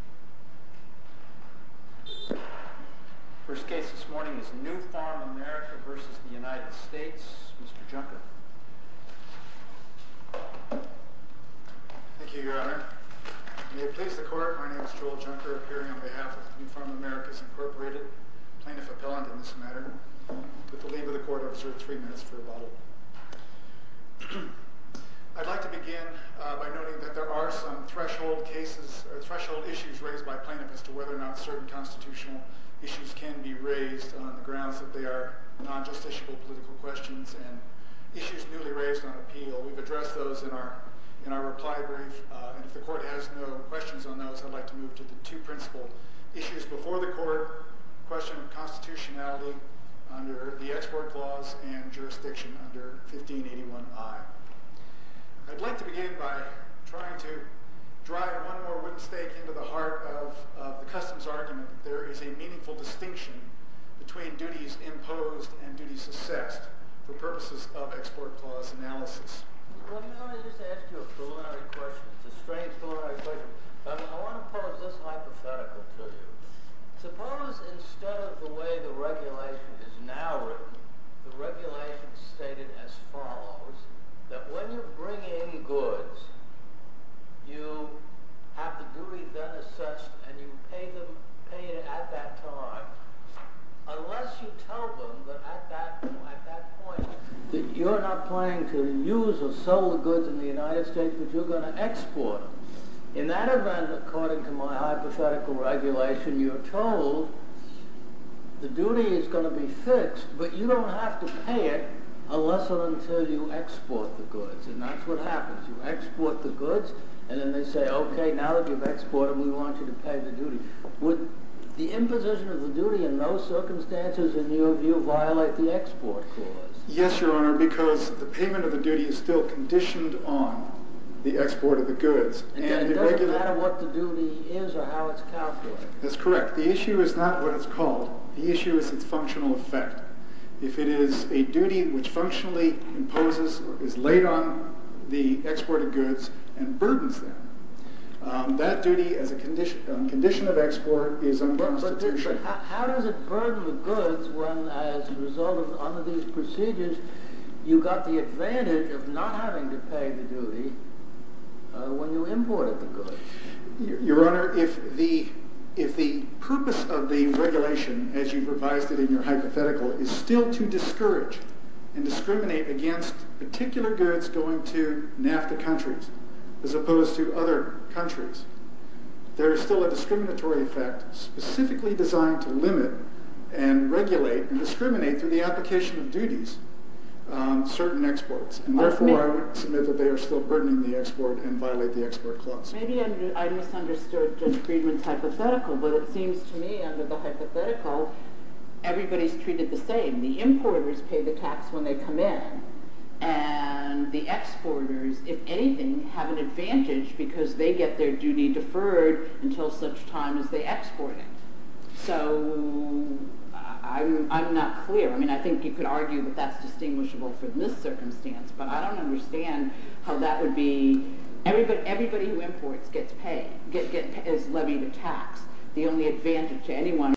Mr. Junker. Thank you, Your Honor. May it please the Court, my name is Joel Junker, appearing on behalf of Nufarm Americas, Inc., Plaintiff Appellant in this matter, with the leave of the Court Officer at three minutes for rebuttal. I'd like to begin by noting that there are some threshold issues raised by plaintiffs as to whether or not certain constitutional issues can be raised on the grounds that they are non-justiciable political questions and issues newly raised on appeal. We've addressed those in our reply brief, and if the Court has no questions on those, I'd like to move to the two principal issues before the Court, the question of constitutionality under the Export Clause and jurisdiction under 1581I. I'd like to begin by trying to drive one more whipstake into the heart of the customs argument that there is a meaningful distinction between duties imposed and duties assessed for purposes of Export Clause analysis. Well, you know, I just asked you a preliminary question. It's a strange preliminary question, but I want to pose this hypothetical to you. Suppose instead of the way the regulation is now written, the regulation is stated as follows, that when you bring in goods, you have the duty then assessed and you pay them at that time, unless you tell them that at that point, that you're not paying to use or sell the goods in the United States, but you're going to export them. In that event, according to my hypothetical regulation, you're told the duty is going to be fixed, but you don't have to pay it unless or until you export the goods. And that's what happens. You export the goods, and then they say, OK, now that you've exported, we want you to pay the duty. Would the imposition of the duty in those circumstances, in your view, violate the Export Clause? Yes, Your Honor, because the payment of the duty is still conditioned on the export of the goods. And it doesn't matter what the duty is or how it's calculated. That's correct. The issue is not what it's called. The issue is its functional effect. If it is a duty which functionally imposes, is laid on the export of goods and burdens them, that duty as a condition of export is unconstitutional. But how does it burden the goods when as a you got the advantage of not having to pay the duty when you imported the goods? Your Honor, if the purpose of the regulation, as you've revised it in your hypothetical, is still to discourage and discriminate against particular goods going to NAFTA countries as opposed to other countries, there is still a discriminatory effect specifically designed to limit and regulate and discriminate through the application of duties on certain exports. And therefore, I would submit that they are still burdening the export and violate the Export Clause. Maybe I misunderstood Judge Friedman's hypothetical, but it seems to me under the hypothetical, everybody's treated the same. The importers pay the tax when they come in, and the exporters, if anything, have an advantage because they get their duty deferred until such time as they export it. So, I'm not clear. I mean, I think you could argue that that's distinguishable from this circumstance, but I don't understand how that would be... Everybody who imports gets paid, is levied a tax. The only advantage to anyone...